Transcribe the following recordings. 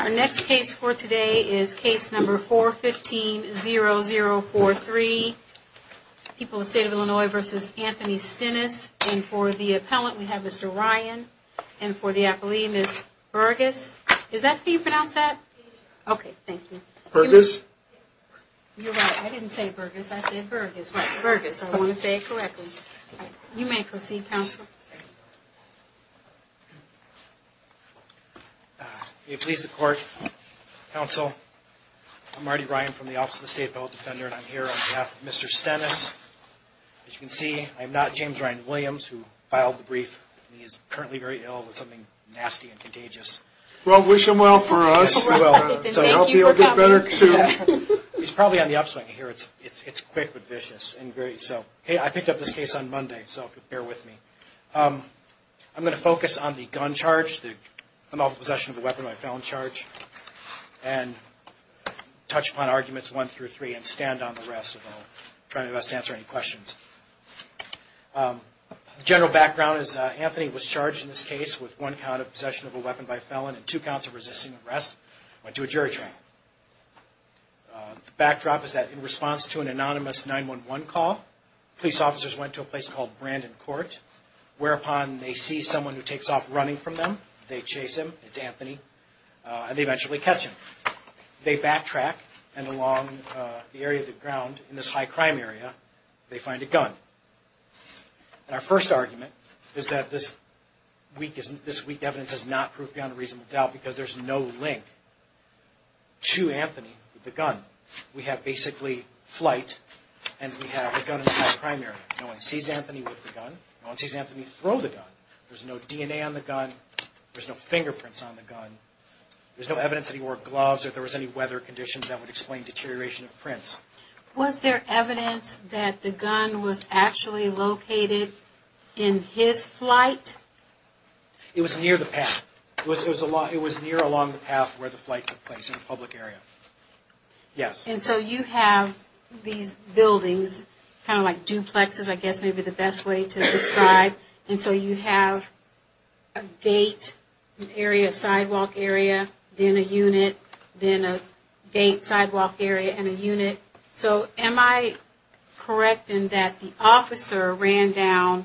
Our next case for today is case number 415-0043. People of the State of Illinois v. Anthony Stennis. And for the appellant we have Mr. Ryan. And for the appellee, Ms. Burgess. Is that right? I didn't say Burgess. I said Burgess. Right, Burgess. I want to say it correctly. You may proceed, counsel. Marty Ryan You may please the court. Counsel, I'm Marty Ryan from the Office of the State Appellate Defender and I'm here on behalf of Mr. Stennis. As you can see, I'm not James Ryan Williams who filed the brief. He is currently very ill with something nasty and contagious. Judge Stennis Well, wish him well for us. Marty Ryan I will. Judge Stennis Thank you for coming. Judge Stennis I'll be a bit better soon. Marty Ryan He's probably on the upswing here. It's quick but vicious. I picked up this case on Monday, so bear with me. I'm going to focus on the gun charge, the multiple possession of a weapon by felon charge, and touch upon arguments 1 through 3 and stand on the rest. I'll try my best to answer any questions. The general background is Anthony was charged in this case with one count of possession of a weapon by felon and two counts of resisting arrest. He went to a jury trial. The backdrop is that in response to an anonymous 911 call, police officers went to a place called Brandon Court whereupon they see someone who takes off running from them. They chase him, it's Anthony, and they eventually catch him. They backtrack and along the area of the ground in this high crime area, they find a gun. Our first argument is that this weak evidence is not proof beyond a reasonable doubt because there's no link to Anthony with the gun. We have basically flight and we have a gun in the high crime area. No one sees Anthony with the gun. No one sees Anthony throw the gun. There's no DNA on the gun. There's no fingerprints on the gun. There's no evidence that he wore gloves or there was any weather conditions that would explain deterioration of prints. Was there evidence that the gun was actually located in his flight? It was near the path. It was near along the path where the flight took place in a public area. Yes. And so you have these buildings, kind of like duplexes I guess may be the best way to describe, and so you have a gate, an area, a sidewalk area, then a unit, then a gate, sidewalk area and a unit. So am I correct in that the officer ran down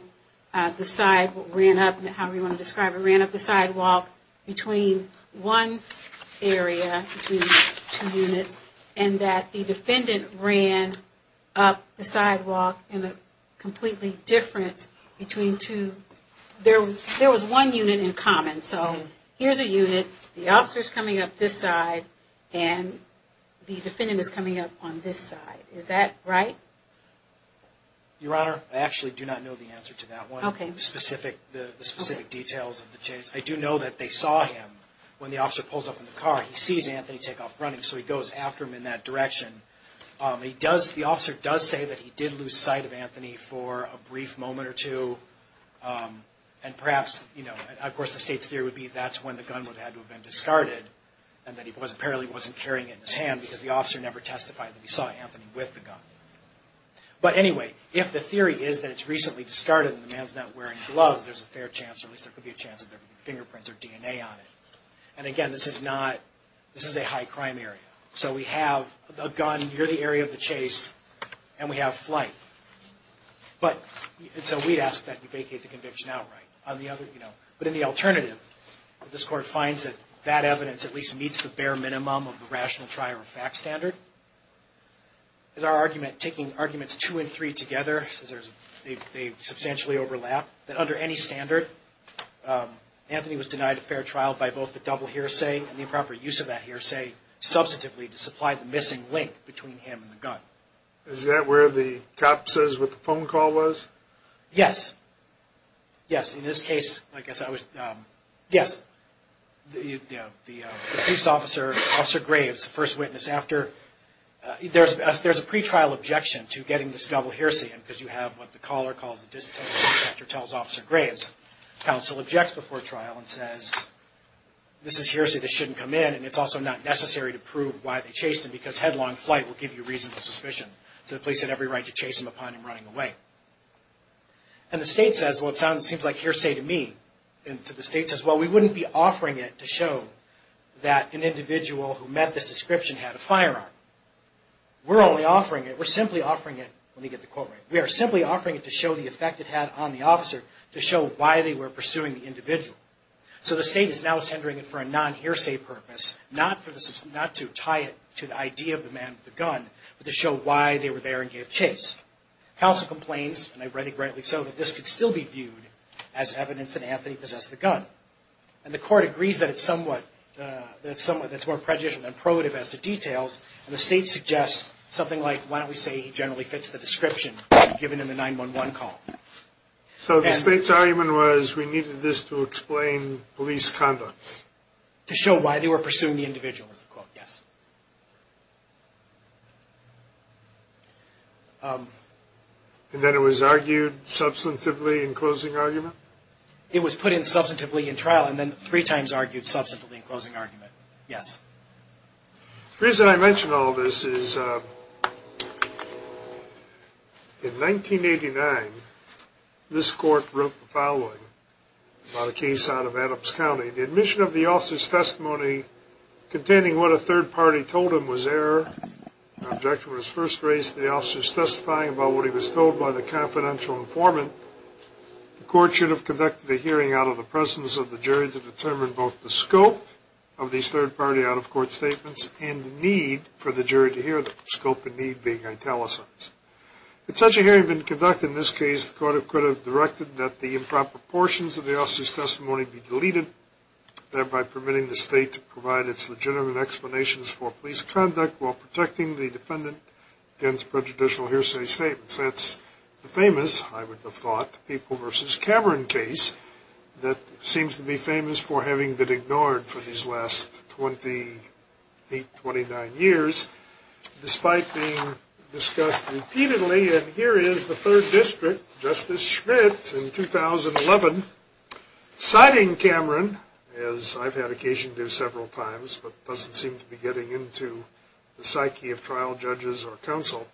the side, ran up, however you want to describe it, ran up the sidewalk between one area, between two units, and that the defendant ran up the sidewalk in a completely different, between two, there was one unit in common. So here's a unit, the officer's coming up this side, and the defendant is coming up on this side. Is that right? Your Honor, I actually do not know the answer to that one. Okay. The specific details of the chase. I do know that they saw him when the officer pulls up in the car. He sees Anthony take off running, so he goes after him in that direction. He does, the officer does say that he did lose sight of Anthony for a brief moment or two, and perhaps, you know, of course the state's theory would be that's when the gun would have to have been discarded, and that he apparently wasn't carrying it in his hand because the officer never testified that he saw Anthony with the gun. But anyway, if the theory is that it's recently discarded and the man's not wearing gloves, there's a fair chance, or at least there could be a chance, that there could be fingerprints or DNA on it. And again, this is not, this is a high crime area. So we have a gun near the area of the chase, and we have flight. But, and so we'd ask that you vacate the conviction outright. But in the alternative, if this Court finds that that evidence at least meets the bare minimum of the rational trial or fact standard, is our argument, taking arguments two and three together, since they substantially overlap, that under any standard, Anthony was denied a fair trial by both the double hearsay and the improper use of that hearsay substantively to supply the missing link between him and the gun. Is that where the cop says what the phone call was? Yes. Yes, in this case, I guess I was, yes. The police officer, Officer Graves, the first witness after, there's a pretrial objection to getting this double hearsay, because you have what the caller calls a distaste, after tells Officer Graves. Counsel objects before trial and says, this is hearsay that shouldn't come in, and it's also not necessary to prove why they chased him, because headlong flight will give you reasonable suspicion. So the police had every right to chase him upon him running away. And the State says, well, it sounds, it seems like hearsay to me. And so the State says, well, we wouldn't be offering it to show that an individual who met this description had a firearm. We're only offering it, we're simply offering it, let me get the quote right, we are simply offering it to show the effect it had on the officer, to show why they were there. So the State is now centering it for a non-hearsay purpose, not for the, not to tie it to the idea of the man with the gun, but to show why they were there and gave chase. Counsel complains, and I read it rightly so, that this could still be viewed as evidence that Anthony possessed the gun. And the Court agrees that it's somewhat, that it's somewhat, that it's more prejudicial than probative as to details, and the State suggests something like, why don't we say he generally fits the description given in the 911 call. So the State's argument was, we needed this to explain police conduct. To show why they were pursuing the individual, is the quote, yes. And then it was argued substantively in closing argument? It was put in substantively in trial and then three times argued substantively in closing argument, yes. The reason I mention all this is, in 1989, this Court wrote the following about a case out of Adams County. The admission of the officer's testimony containing what a third party told him was error. The objection was first raised to the officer's testifying about what he was told by the confidential informant. The Court should have conducted a hearing out of the presence of the jury to determine both the scope of these third party out-of-court statements and the need for the jury to hear them. Scope and need being italicized. If such a hearing had been conducted in this case, the Court could have directed that the improper portions of the officer's testimony be deleted, thereby permitting the State to provide its legitimate explanations for police conduct while protecting the defendant against prejudicial hearsay statements. That's the famous, I would have thought, People v. Cameron case that seems to be famous for having been ignored for these last 28, 29 years, despite being discussed repeatedly. And here is the Third District, Justice Schmidt, in 2011, citing Cameron, as I've had occasion to do several times but doesn't seem to be getting into the psyche of trial judges or counsel,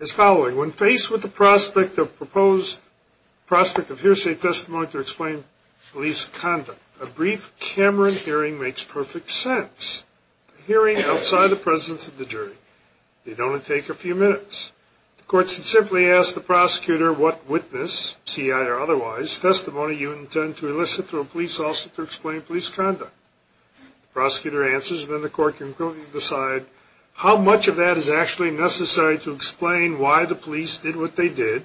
as following. When faced with the prospect of hearsay testimony to explain police conduct, a brief Cameron hearing makes perfect sense. A hearing outside the presence of the jury. It'd only take a few minutes. The Court should simply ask the prosecutor what witness, C.I. or otherwise, testimony you intend to elicit through a police officer to explain police conduct. The prosecutor answers and then the Court can quickly decide how much of that is actually necessary to explain why the police did what they did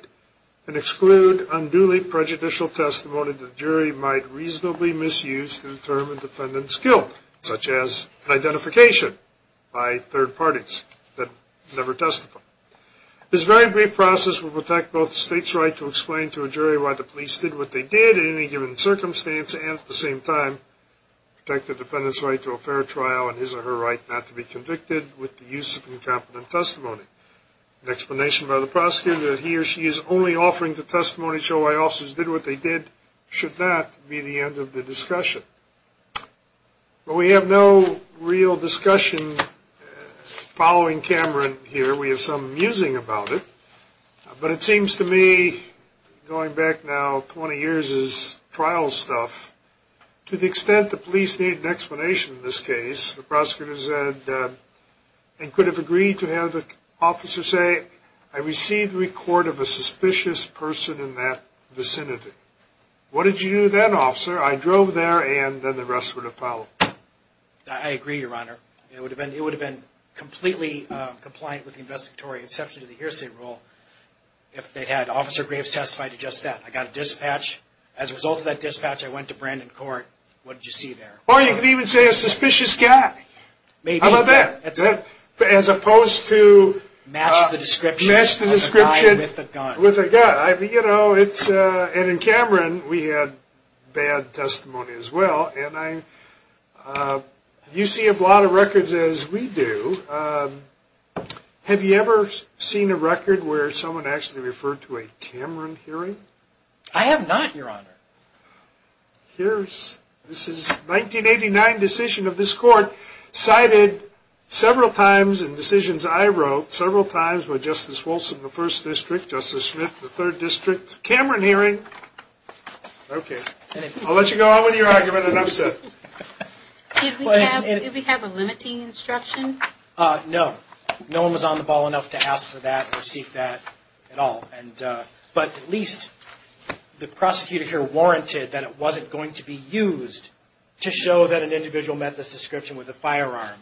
and exclude unduly prejudicial testimony the jury might reasonably misuse to determine defendant's guilt, such as identification by third parties that never testify. This very brief process will protect both the State's right to explain to a jury why the police did what they did in any given circumstance and, at the same time, protect the defendant's right to a fair trial and his or her right not to be convicted with the use of an explanation by the prosecutor that he or she is only offering the testimony to show why officers did what they did should not be the end of the discussion. But we have no real discussion following Cameron here. We have some musing about it. But it seems to me, going back now 20 years as trial stuff, to the extent the police need an explanation for why they did what they did, it seems to me to be a little bit more complicated than that. I agree, Your Honor. It would have been completely compliant with the investigatory exception to the hearsay rule if they had Officer Graves testify to just that. I got a dispatch. As a result of that dispatch, I went to Brandon Court. What did you see there? Or you could even say a suspicious guy. How about that? As opposed to... Match the description of a guy with a gun. And in Cameron, we had bad testimony as well. You see a lot of records as we do. Have you ever seen a record where someone actually referred to a Cameron hearing? I have not, Your Honor. This is a 1989 decision of this Court. Cited several times in decisions I wrote, several times with Justice Wilson, the First District, Justice Smith, the Third District. Cameron hearing. Okay. I'll let you go on with your argument and I'm set. Did we have a limiting instruction? No. No one was on the ball enough to ask for that or see if that at all. But at least the warranted that it wasn't going to be used to show that an individual met this description with a firearm.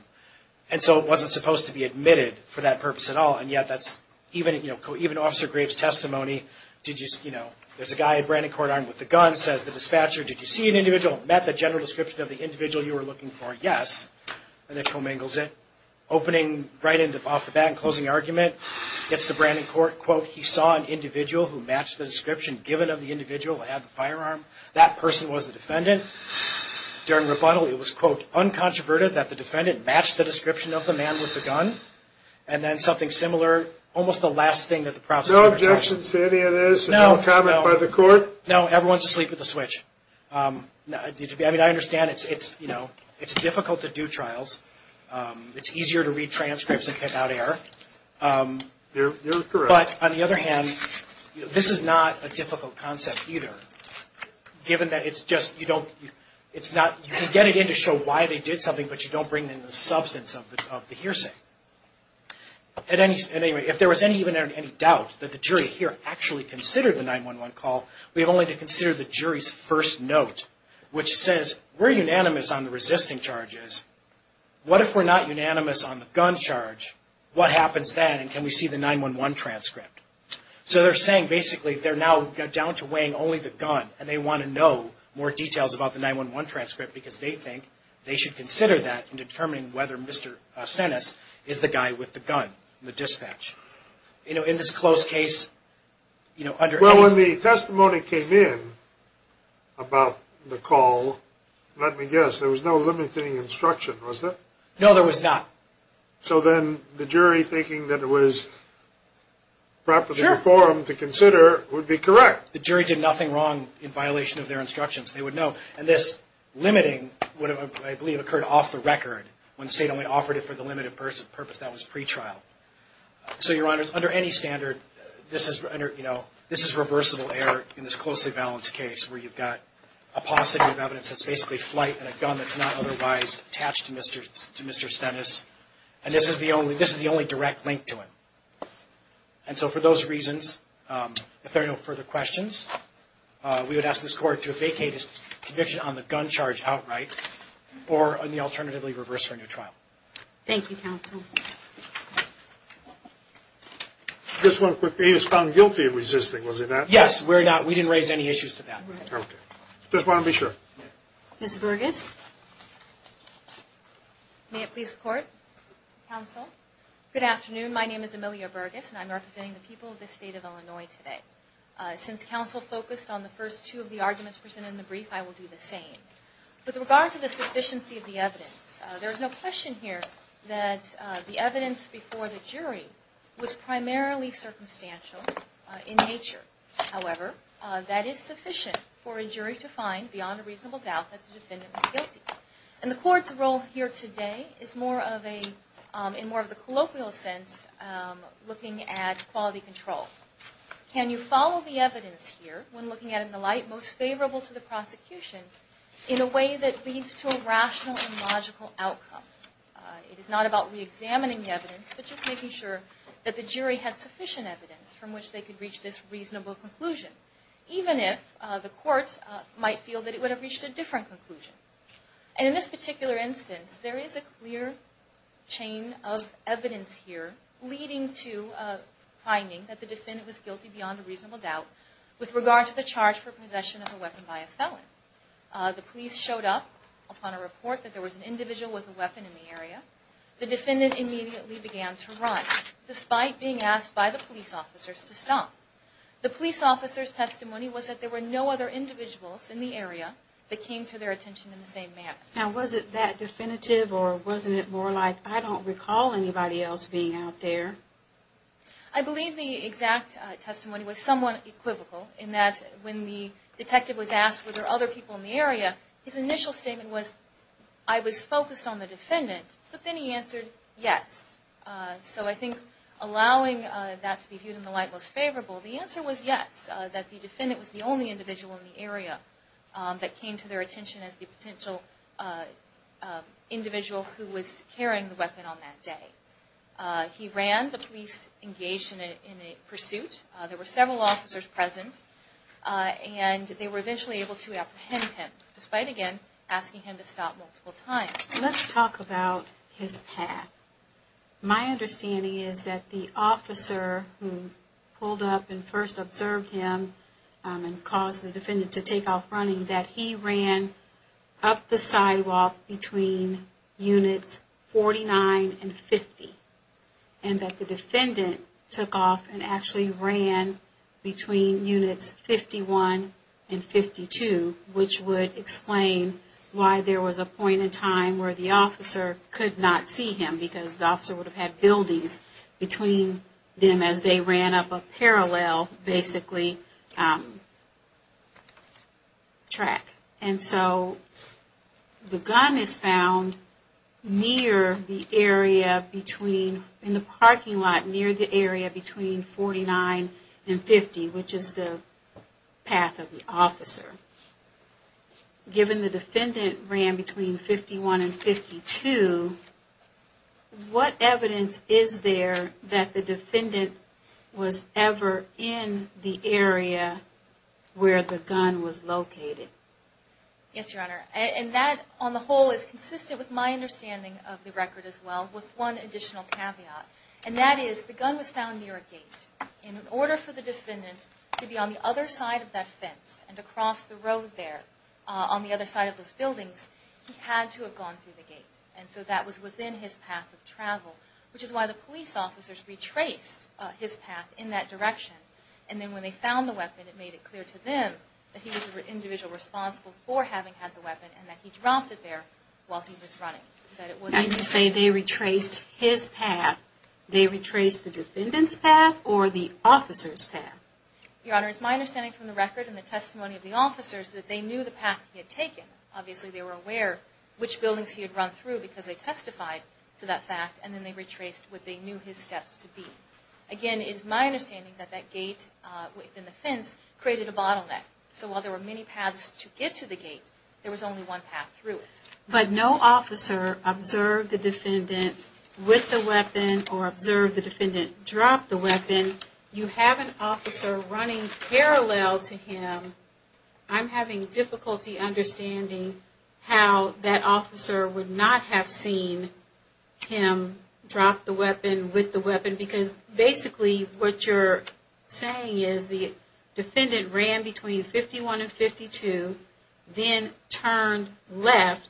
And so it wasn't supposed to be admitted for that purpose at all. And yet that's... Even Officer Graves' testimony, there's a guy at Brandon Court armed with a gun, says the dispatcher, did you see an individual met the general description of the individual you were looking for? Yes. And then commingles it. Opening right off the bat and closing argument, gets to Brandon Court, quote, he saw an individual who matched the description given of the individual who had the firearm. That person was the defendant. During rebuttal, it was, quote, uncontroverted that the defendant matched the description of the man with the gun. And then something similar, almost the last thing that the prosecution... No objections to any of this? No. No comment by the Court? No. Everyone's asleep at the switch. I mean, I understand it's difficult to do trials. It's easier to read transcripts and pick out error. You're correct. But on the other hand, this is not a difficult concept either, given that it's just, you don't... You can get it in to show why they did something, but you don't bring it into the substance of the hearsay. At any rate, if there was any doubt that the jury here actually considered the 911 call, we have only to consider the jury's first note, which says, we're unanimous on the resisting charges. What if we're not unanimous on the gun charge? What happens then? And can we see the 911 transcript? So they're saying, basically, they're now down to weighing only the gun, and they want to know more details about the 911 transcript because they think they should consider that in determining whether Mr. Senes is the guy with the gun, the dispatch. You know, in this close case, you know, under... Well, when the testimony came in about the call, let me guess, there was no limiting instruction, was there? No, there was not. So then the jury, thinking that it was properly performed to consider, would be correct. The jury did nothing wrong in violation of their instructions. They would know. And this limiting would have, I believe, occurred off the record when the state only offered it for the limited purpose that was pretrial. So, Your Honors, under any standard, this is, you know, this is reversible error in this closely balanced case where you've got a positive evidence that's basically flight and a gun that's not otherwise attached to Mr. Senes, and this is the only direct link to it. And so for those reasons, if there are no further questions, we would ask this Court to vacate its conviction on the gun charge outright or on the alternatively reverse or neutral. Thank you, Counsel. Just one quick thing. He was found guilty of resisting, was he not? Yes, we're not. We didn't raise any issues to that. Okay. Just want to be sure. Ms. Burgess. May it please the Court? Counsel? Good afternoon. My name is Amelia Burgess and I'm representing the people of the State of Illinois today. Since Counsel focused on the first two of the arguments presented in the brief, I will do the same. With regard to the sufficiency of the evidence, there is no question here that the evidence before the jury was primarily circumstantial in nature. However, that is sufficient for a jury to find beyond a reasonable doubt that the defendant was guilty. And the Court's role here today is more of a, in more of a colloquial sense, looking at quality control. Can you follow the evidence here when looking at it in the light most favorable to the prosecution in a way that leads to a rational and logical outcome? It is not about reexamining the evidence, but just making sure that the jury had sufficient evidence from which they could reach this reasonable conclusion, even if the Court might feel that it would have reached a different conclusion. And in this particular instance, there is a clear chain of evidence here leading to finding that the defendant was guilty beyond a reasonable doubt with regard to the charge for possession of a weapon by a felon. The police showed up upon a report that there was an individual with a weapon in the area. The defendant immediately began to run, despite being asked by the police officers to stop. The police officer's testimony was that there were no other individuals in the area that came to their attention in the same manner. Now, was it that definitive or wasn't it more like, I don't recall anybody else being out there? I believe the exact testimony was somewhat equivocal in that when the detective was asked were there other people in the area, his initial statement was, I was focused on the defendant, but then he answered, yes. So I think allowing that to be viewed in the light most favorable, the answer was yes, that the defendant was the only individual in the area that came to their attention as the potential individual who was carrying the weapon on that day. He ran. The police engaged in a pursuit. There were several officers present, and they were eventually able to apprehend him, despite again asking him to stop multiple times. Let's talk about his path. My understanding is that the officer who pulled up and first observed him and caused the defendant to take off running, that he ran up the sidewalk between units 49 and 50, and that the defendant took off and actually ran between units 51 and 52, which would explain why there was a point in time where the officer could not see him because the officer would have had buildings between them as they ran up a parallel basically track. And so the gun is found near the area between, in the parking lot near the area between 49 and 50, which is the path of the officer. Given the defendant ran between 51 and 52, what evidence is there that the defendant was ever in the area where the gun was located? Yes, Your Honor. And that on the whole is consistent with my understanding of the record as well, with one additional caveat. And that is the gun was found near a gate. In order for the defendant to be on the other side of that fence and to cross the road there on the other side of those buildings, he had to have gone through the gate. And so that was within his path of travel, which is why the police officers retraced his path in that direction. And then when they found the weapon, it made it clear to them that he was the individual responsible for having had the weapon and that he dropped it there while he was running. And you say they retraced his path. They retraced the defendant's path or the officer's path? Your Honor, it's my understanding from the record and the testimony of the officers that they knew the path he had taken. Obviously they were aware which buildings he had run through because they testified to that fact. And then they retraced what they knew his steps to be. Again, it is my understanding that that gate within the fence created a bottleneck. So while there were many paths to get to the gate, there was only one path through it. But no officer observed the defendant with the weapon or observed the defendant drop the weapon. You have an officer running parallel to him. I'm having difficulty understanding how that officer would not have seen him drop the weapon with the weapon because basically what you're saying is the defendant ran between 51 and 52, then turned left,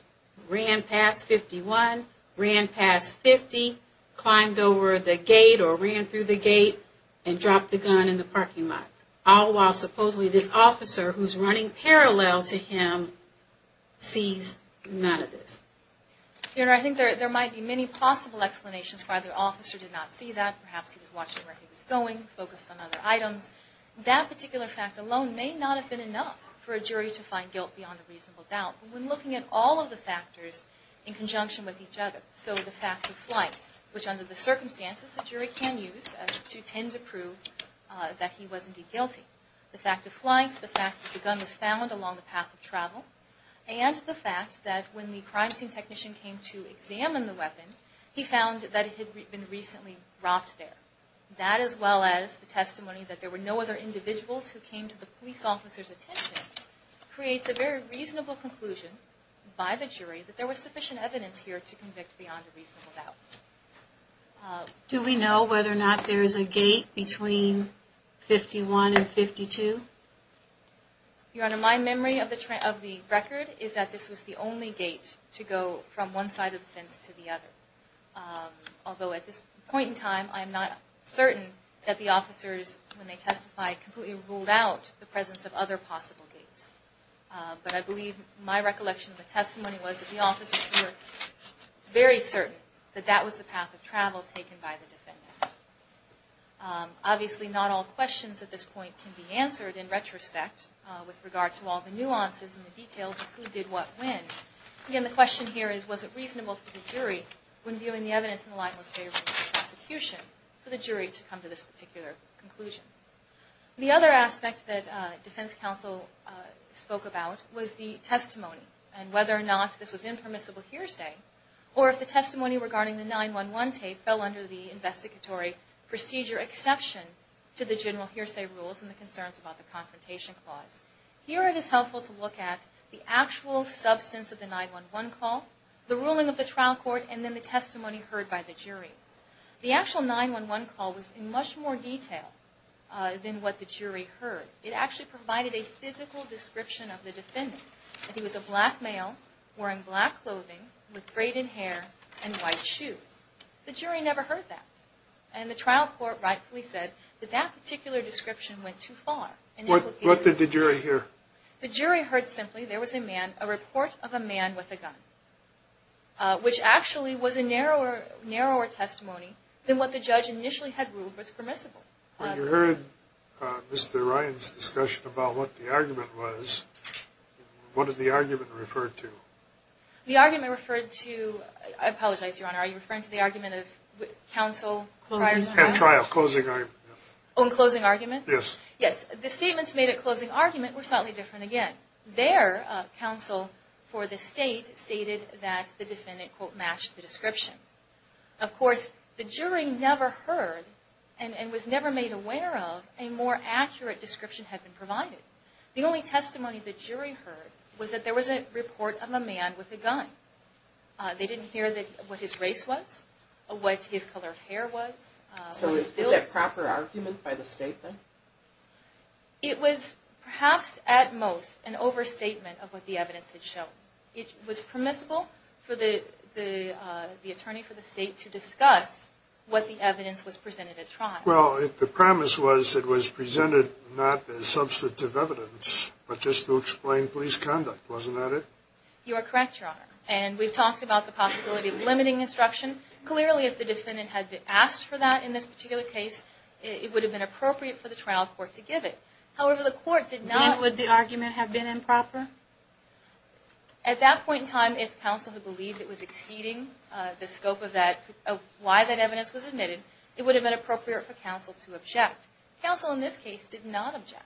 ran past 51, ran past 50, climbed over the gate or ran through the gate, and dropped the gun in the parking lot. All while supposedly this officer who's running parallel to him sees none of this. Your Honor, I think there might be many possible explanations why the officer did not see that. Perhaps he was watching where he was going, focused on other items. That particular fact alone may not have been enough for a jury to find guilt beyond a reasonable doubt. When looking at all of the factors in conjunction with each other, so the fact of flight, which under the circumstances a jury can use to tend to prove that he was indeed guilty, the fact of flight, the fact that the gun was found along the path of travel, and the fact that when the crime scene technician came to examine the weapon, he found that it had been recently dropped there. That as well as the testimony that there were no other that there was sufficient evidence here to convict beyond a reasonable doubt. Do we know whether or not there is a gate between 51 and 52? Your Honor, my memory of the record is that this was the only gate to go from one side of the fence to the other. Although at this point in time I am not certain that the officers when they testified completely ruled out the presence of other possible gates. But I believe my recollection of the testimony was that the officers were very certain that that was the path of travel taken by the defendant. Obviously not all questions at this point can be answered in retrospect with regard to all the nuances and the details of who did what when. Again, the question here is was it reasonable for the jury, when viewing the evidence in the limelight of the prosecution, for the jury to come to this particular conclusion? The other aspect that defense counsel spoke about was the testimony and whether or not this was impermissible hearsay or if the testimony regarding the 911 tape fell under the investigatory procedure exception to the general hearsay rules and the concerns about the confrontation clause. Here it is helpful to look at the actual substance of the 911 call, the ruling of the trial court, and then the testimony heard by the jury. The actual 911 call was in much more detail than what the jury heard. It actually provided a physical description of the defendant, that he was a black male wearing black clothing with braided hair and white shoes. The jury never heard that. And the trial court rightfully said that that particular description went too far. What did the jury hear? The jury heard simply there was a man, a report of a man with a gun, which actually was a narrower testimony than what the judge initially had ruled was permissible. When you heard Mr. Ryan's discussion about what the argument was, what did the argument refer to? The argument referred to, I apologize, Your Honor, are you referring to the argument of counsel prior to the trial? Closing argument. Oh, in closing argument? Yes. Yes. The statements made at closing argument were slightly different again. Their counsel for the state stated that the defendant quote matched the description. Of course, the jury never heard and was never made aware of a more accurate description had been provided. The only testimony the jury heard was that there was a report of a man with a gun. They didn't hear what his race was, what his color of hair was. So is that proper argument by the state then? It was perhaps at most an overstatement of what the evidence had shown. It was permissible for the attorney for the state to discuss what the evidence was presented at trial. Well, the premise was it was presented not as substantive evidence, but just to explain police conduct. Wasn't that it? You are correct, Your Honor. And we've talked about the possibility of limiting instruction. Clearly, if the defendant had been asked for that in this particular case, it would have been appropriate for the trial court to give it. However, the court did not... Then would the argument have been improper? At that point in time, if counsel had believed it was exceeding the scope of why that evidence was admitted, it would have been appropriate for counsel to object. Counsel in this case did not object.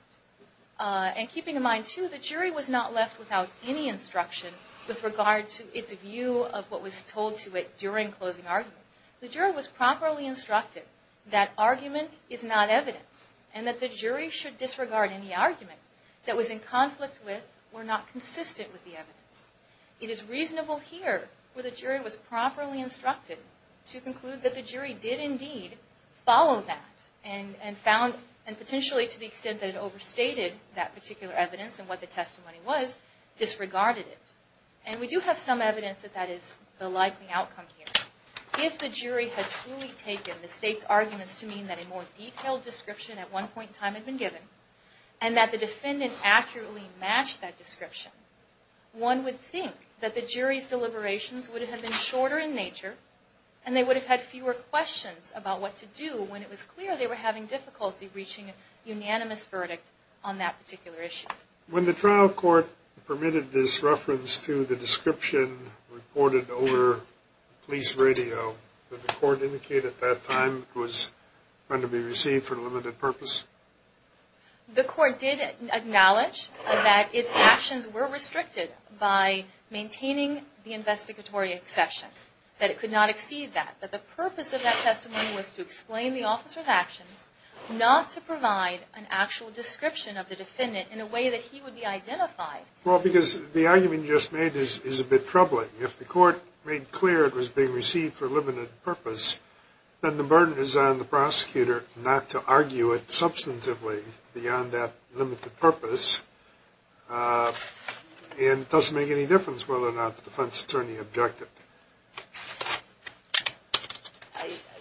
And keeping in mind too, the jury was not left without any instruction with regard to its view of what was told to it during closing argument. The jury was properly instructed that argument is not evidence and that the jury should disregard any argument that was in conflict with or not consistent with the evidence. It is reasonable here where the jury was properly instructed to conclude that the jury did indeed follow that and found and potentially to the extent that it overstated that particular evidence and what the testimony was, disregarded it. And we do have some evidence that that is the likely outcome here. If the jury had truly taken the state's arguments to mean that a more detailed description at one point in time had been given and that the defendant accurately matched that description, one would think that the jury's deliberations would have been shorter in nature and they would have had fewer questions about what to do when it was clear they were having difficulty reaching a unanimous verdict on that particular issue. When the trial court permitted this reference to the description reported over police radio, did the court indicate at that time it was going to be received for a limited purpose? The court did acknowledge that its actions were restricted by maintaining the investigatory exception, that it could not exceed that. But the purpose of that testimony was to explain the officer's actions, not to provide an actual description of the defendant in a way that he would be identified. Well, because the argument you just made is a bit troubling. If the court made clear it was being received for a limited purpose, then the burden is on the prosecutor not to argue it substantively beyond that limited purpose. And it doesn't make any difference whether or not the defense attorney objected.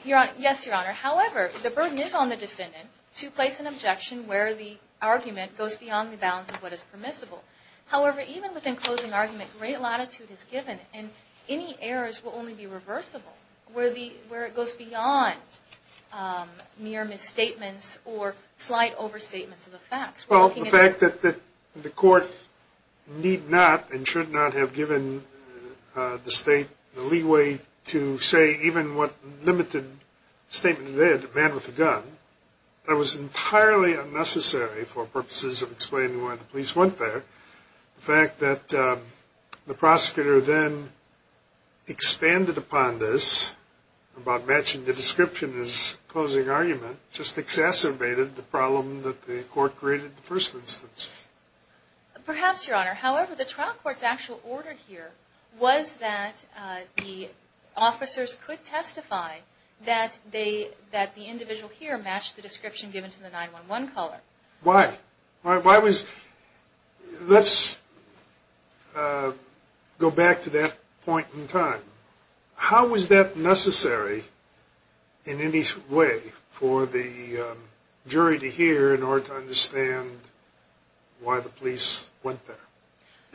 Yes, Your Honor. However, the burden is on the defendant to place an objection where the argument goes beyond the bounds of what is permissible. However, even within closing argument, great latitude is given, and any errors will only be reversible where it goes beyond mere misstatements or slight overstatements of the facts. Well, the fact that the court need not and should not have given the state the right leeway to say even what limited statement it did, a man with a gun, that was entirely unnecessary for purposes of explaining why the police went there. The fact that the prosecutor then expanded upon this, about matching the description as closing argument, just exacerbated the problem that the court created in the first instance. Perhaps, Your Honor. However, the trial court's actual order here was that the officers could testify that the individual here matched the description given to the 911 caller. Why? Let's go back to that point in time. How was that necessary in any way for the case? Your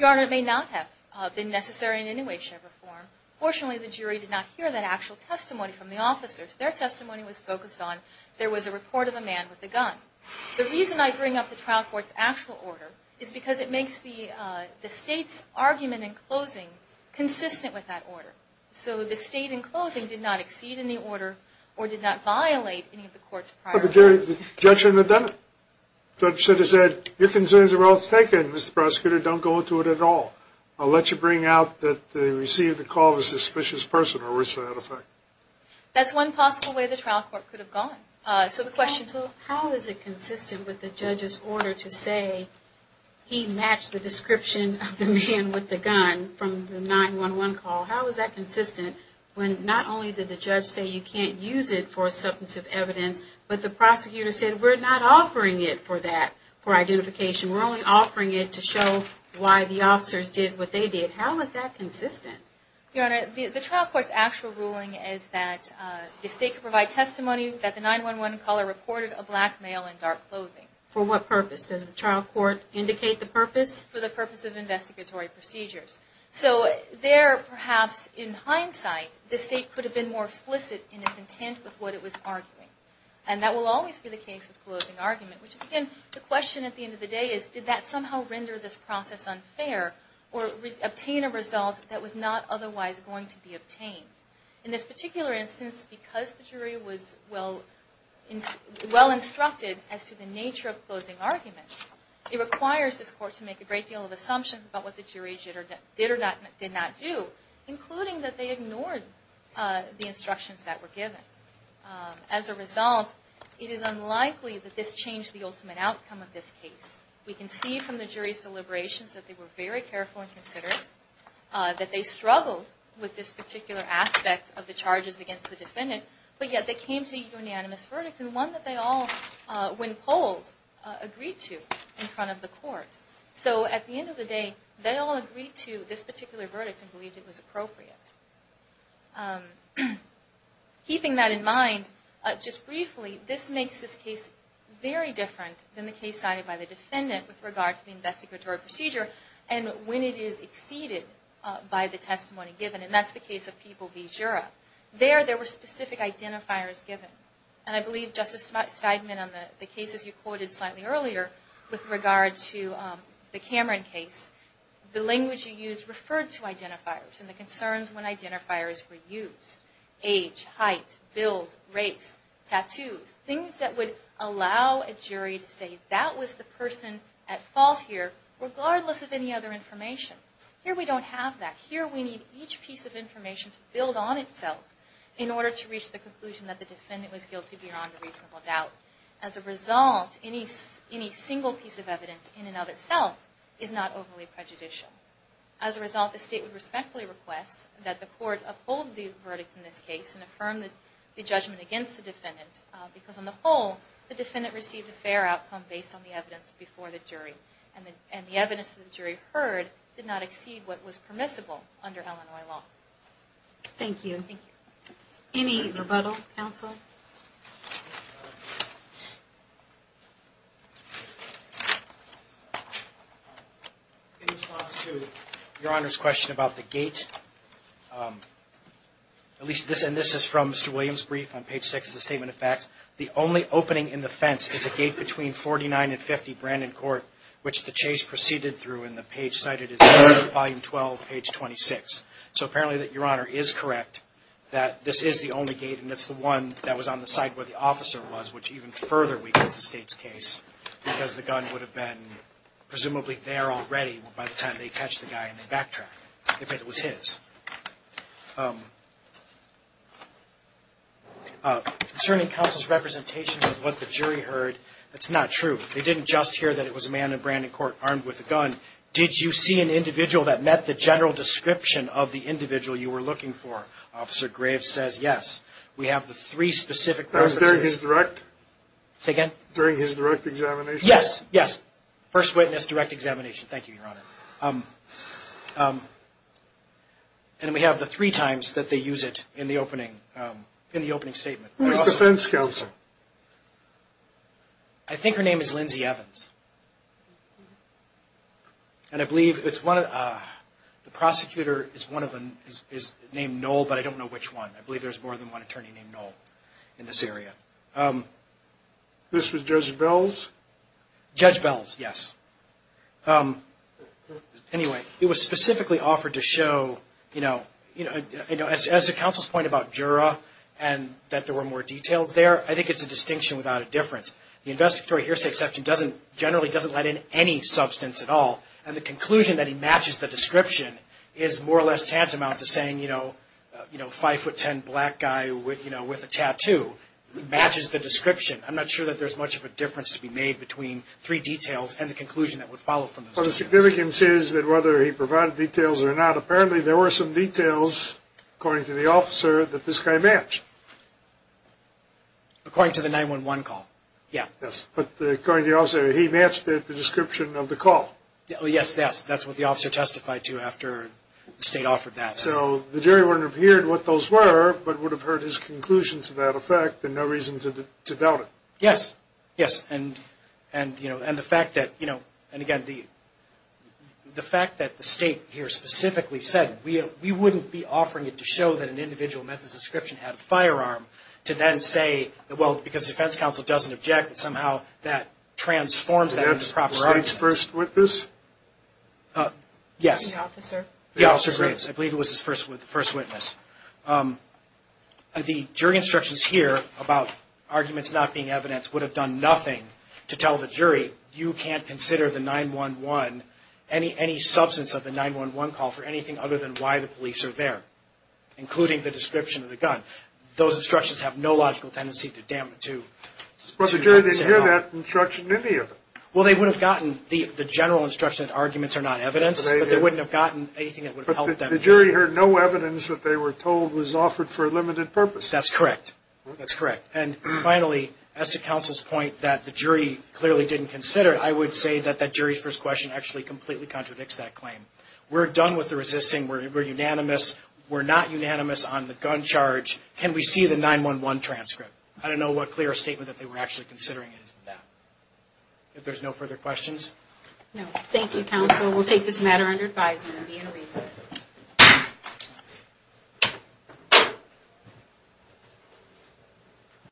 Honor, it may not have been necessary in any way, shape, or form. Fortunately, the jury did not hear that actual testimony from the officers. Their testimony was focused on there was a report of a man with a gun. The reason I bring up the trial court's actual order is because it makes the state's argument in closing consistent with that order. So the state in closing did not exceed in the order or did not violate any of the court's prior orders. The judge should have said, your concerns are well taken, Mr. Prosecutor. Don't go into it at all. I'll let you bring out that they received a call of a suspicious person or worse to that effect. That's one possible way the trial court could have gone. How is it consistent with the judge's order to say he matched the description of the man with the gun from the 911 call? How is that consistent when not only did the judge say you can't use it for substantive evidence, but the prosecutor said we're not offering it for that, for identification. We're only offering it to show why the officers did what they did. How is that consistent? Your Honor, the trial court's actual ruling is that the state could provide testimony that the 911 caller reported a black male in dark clothing. For what purpose? Does the trial court indicate the purpose? For the purpose of investigatory procedures. So there, perhaps, in hindsight, the state could have been more explicit in its intent with what it was arguing. And that will always be the case with closing argument. Which, again, the question at the end of the day is, did that somehow render this process unfair or obtain a result that was not otherwise going to be obtained? In this particular instance, because the jury was well instructed as to the nature of closing arguments, it requires this court to make a great deal of assumptions about what the instructions that were given. As a result, it is unlikely that this changed the ultimate outcome of this case. We can see from the jury's deliberations that they were very careful and considerate, that they struggled with this particular aspect of the charges against the defendant, but yet they came to a unanimous verdict, and one that they all, when polled, agreed to in front of the court. So at the end of the day, they all agreed to this particular verdict and believed it was appropriate. Keeping that in mind, just briefly, this makes this case very different than the case cited by the defendant with regard to the investigatory procedure, and when it is exceeded by the testimony given. And that's the case of People v. Jura. There, there were specific identifiers given. And I believe Justice Steigman, on the cases you quoted slightly earlier, with regard to the Cameron case, the language you used referred to identifiers and the concerns when identifiers were used. Age, height, build, race, tattoos, things that would allow a jury to say that was the person at fault here, regardless of any other information. Here we don't have that. Here we need each piece of information to build on itself in order to reach the conclusion that the defendant was guilty beyond a reasonable doubt. As a result, any single piece of evidence in and of itself is not overly prejudicial. As a result, the State would respectfully request that the court uphold the verdict in this case and affirm the judgment against the defendant, because on the whole, the defendant received a fair outcome based on the evidence before the jury, and the evidence the jury heard did not exceed what was permissible under Illinois law. Thank you. Any rebuttal, counsel? In response to Your Honor's question about the gate, at least this, and this is from Mr. Williams' brief on page 6 of the Statement of Facts, the only opening in the fence is a gate between 49 and 50 Brandon Court, which the chase proceeded through, and the page cited is Volume 12, page 26. So apparently Your Honor is correct that this is the only gate, and it's the one that was on the side where the officer was, which even further weakens the State's case, because the gun would have been presumably there already by the time they catch the guy and they backtrack if it was his. Concerning counsel's representation of what the jury heard, it's not true. They didn't just hear that it was a man in Brandon Court armed with a gun. Did you see an individual that met the general description of the individual you were looking for? Officer Graves says yes. We have the three specific references. That was during his direct? Say again? During his direct examination? Yes, yes. First witness, direct examination. Thank you, Your Honor. And we have the three times that they use it in the opening, in the opening statement. Who was defense counsel? I think her name is Lindsay Evans. And I believe it's one of the, the prosecutor is one of them is named Noel, but I don't know which one. I believe there's more than one attorney named Noel in this area. This was Judge Bells? Judge Bells, yes. Anyway, it was specifically offered to show, you know, as to counsel's point about juror and that there were more details there, I think it's a distinction without a difference. The investigatory hearsay exception generally doesn't let in any substance at all. And the conclusion that he matches the description is more or less tantamount to saying, you know, you know, five foot ten black guy with, you know, with a tattoo matches the description. I'm not sure that there's much of a difference to be made between three details and the conclusion that would follow from this. Well, the significance is that whether he provided details or not, apparently there were some details, according to the officer, that this guy matched. According to the 911 call? Yeah. Yes, but according to the officer, he matched the description of the call. Yes, that's what the officer testified to after the state offered that. So the jury wouldn't have heard what those were, but would have heard his conclusion to that effect and no reason to doubt it. Yes, yes. And, you know, and the fact that, you know, and again, the fact that the state here specifically said we wouldn't be offering it to show that an individual met the description and had a firearm to then say, well, because the defense counsel doesn't object, that somehow that transforms that into a proper argument. Was that the state's first witness? Yes. The officer? The officer's witness. I believe it was his first witness. The jury instructions here about arguments not being evidenced would have done nothing to tell the jury, you can't consider the 911, any substance of the 911 call for anything other than why the police are there, including the description of the gun. Those instructions have no logical tendency to doubt. But the jury didn't hear that instruction in any of it. Well, they would have gotten the general instruction that arguments are not evidence, but they wouldn't have gotten anything that would have helped them. But the jury heard no evidence that they were told was offered for a limited purpose. That's correct. That's correct. And finally, as to counsel's point that the jury clearly didn't consider it, I would say that that jury's first question actually completely contradicts that claim. We're done with the resisting. We're unanimous. We're not unanimous on the gun charge. Can we see the 911 transcript? I don't know what clear statement that they were actually considering. If there's no further questions? No. Thank you, counsel. We'll take this matter under advisement and be in recess.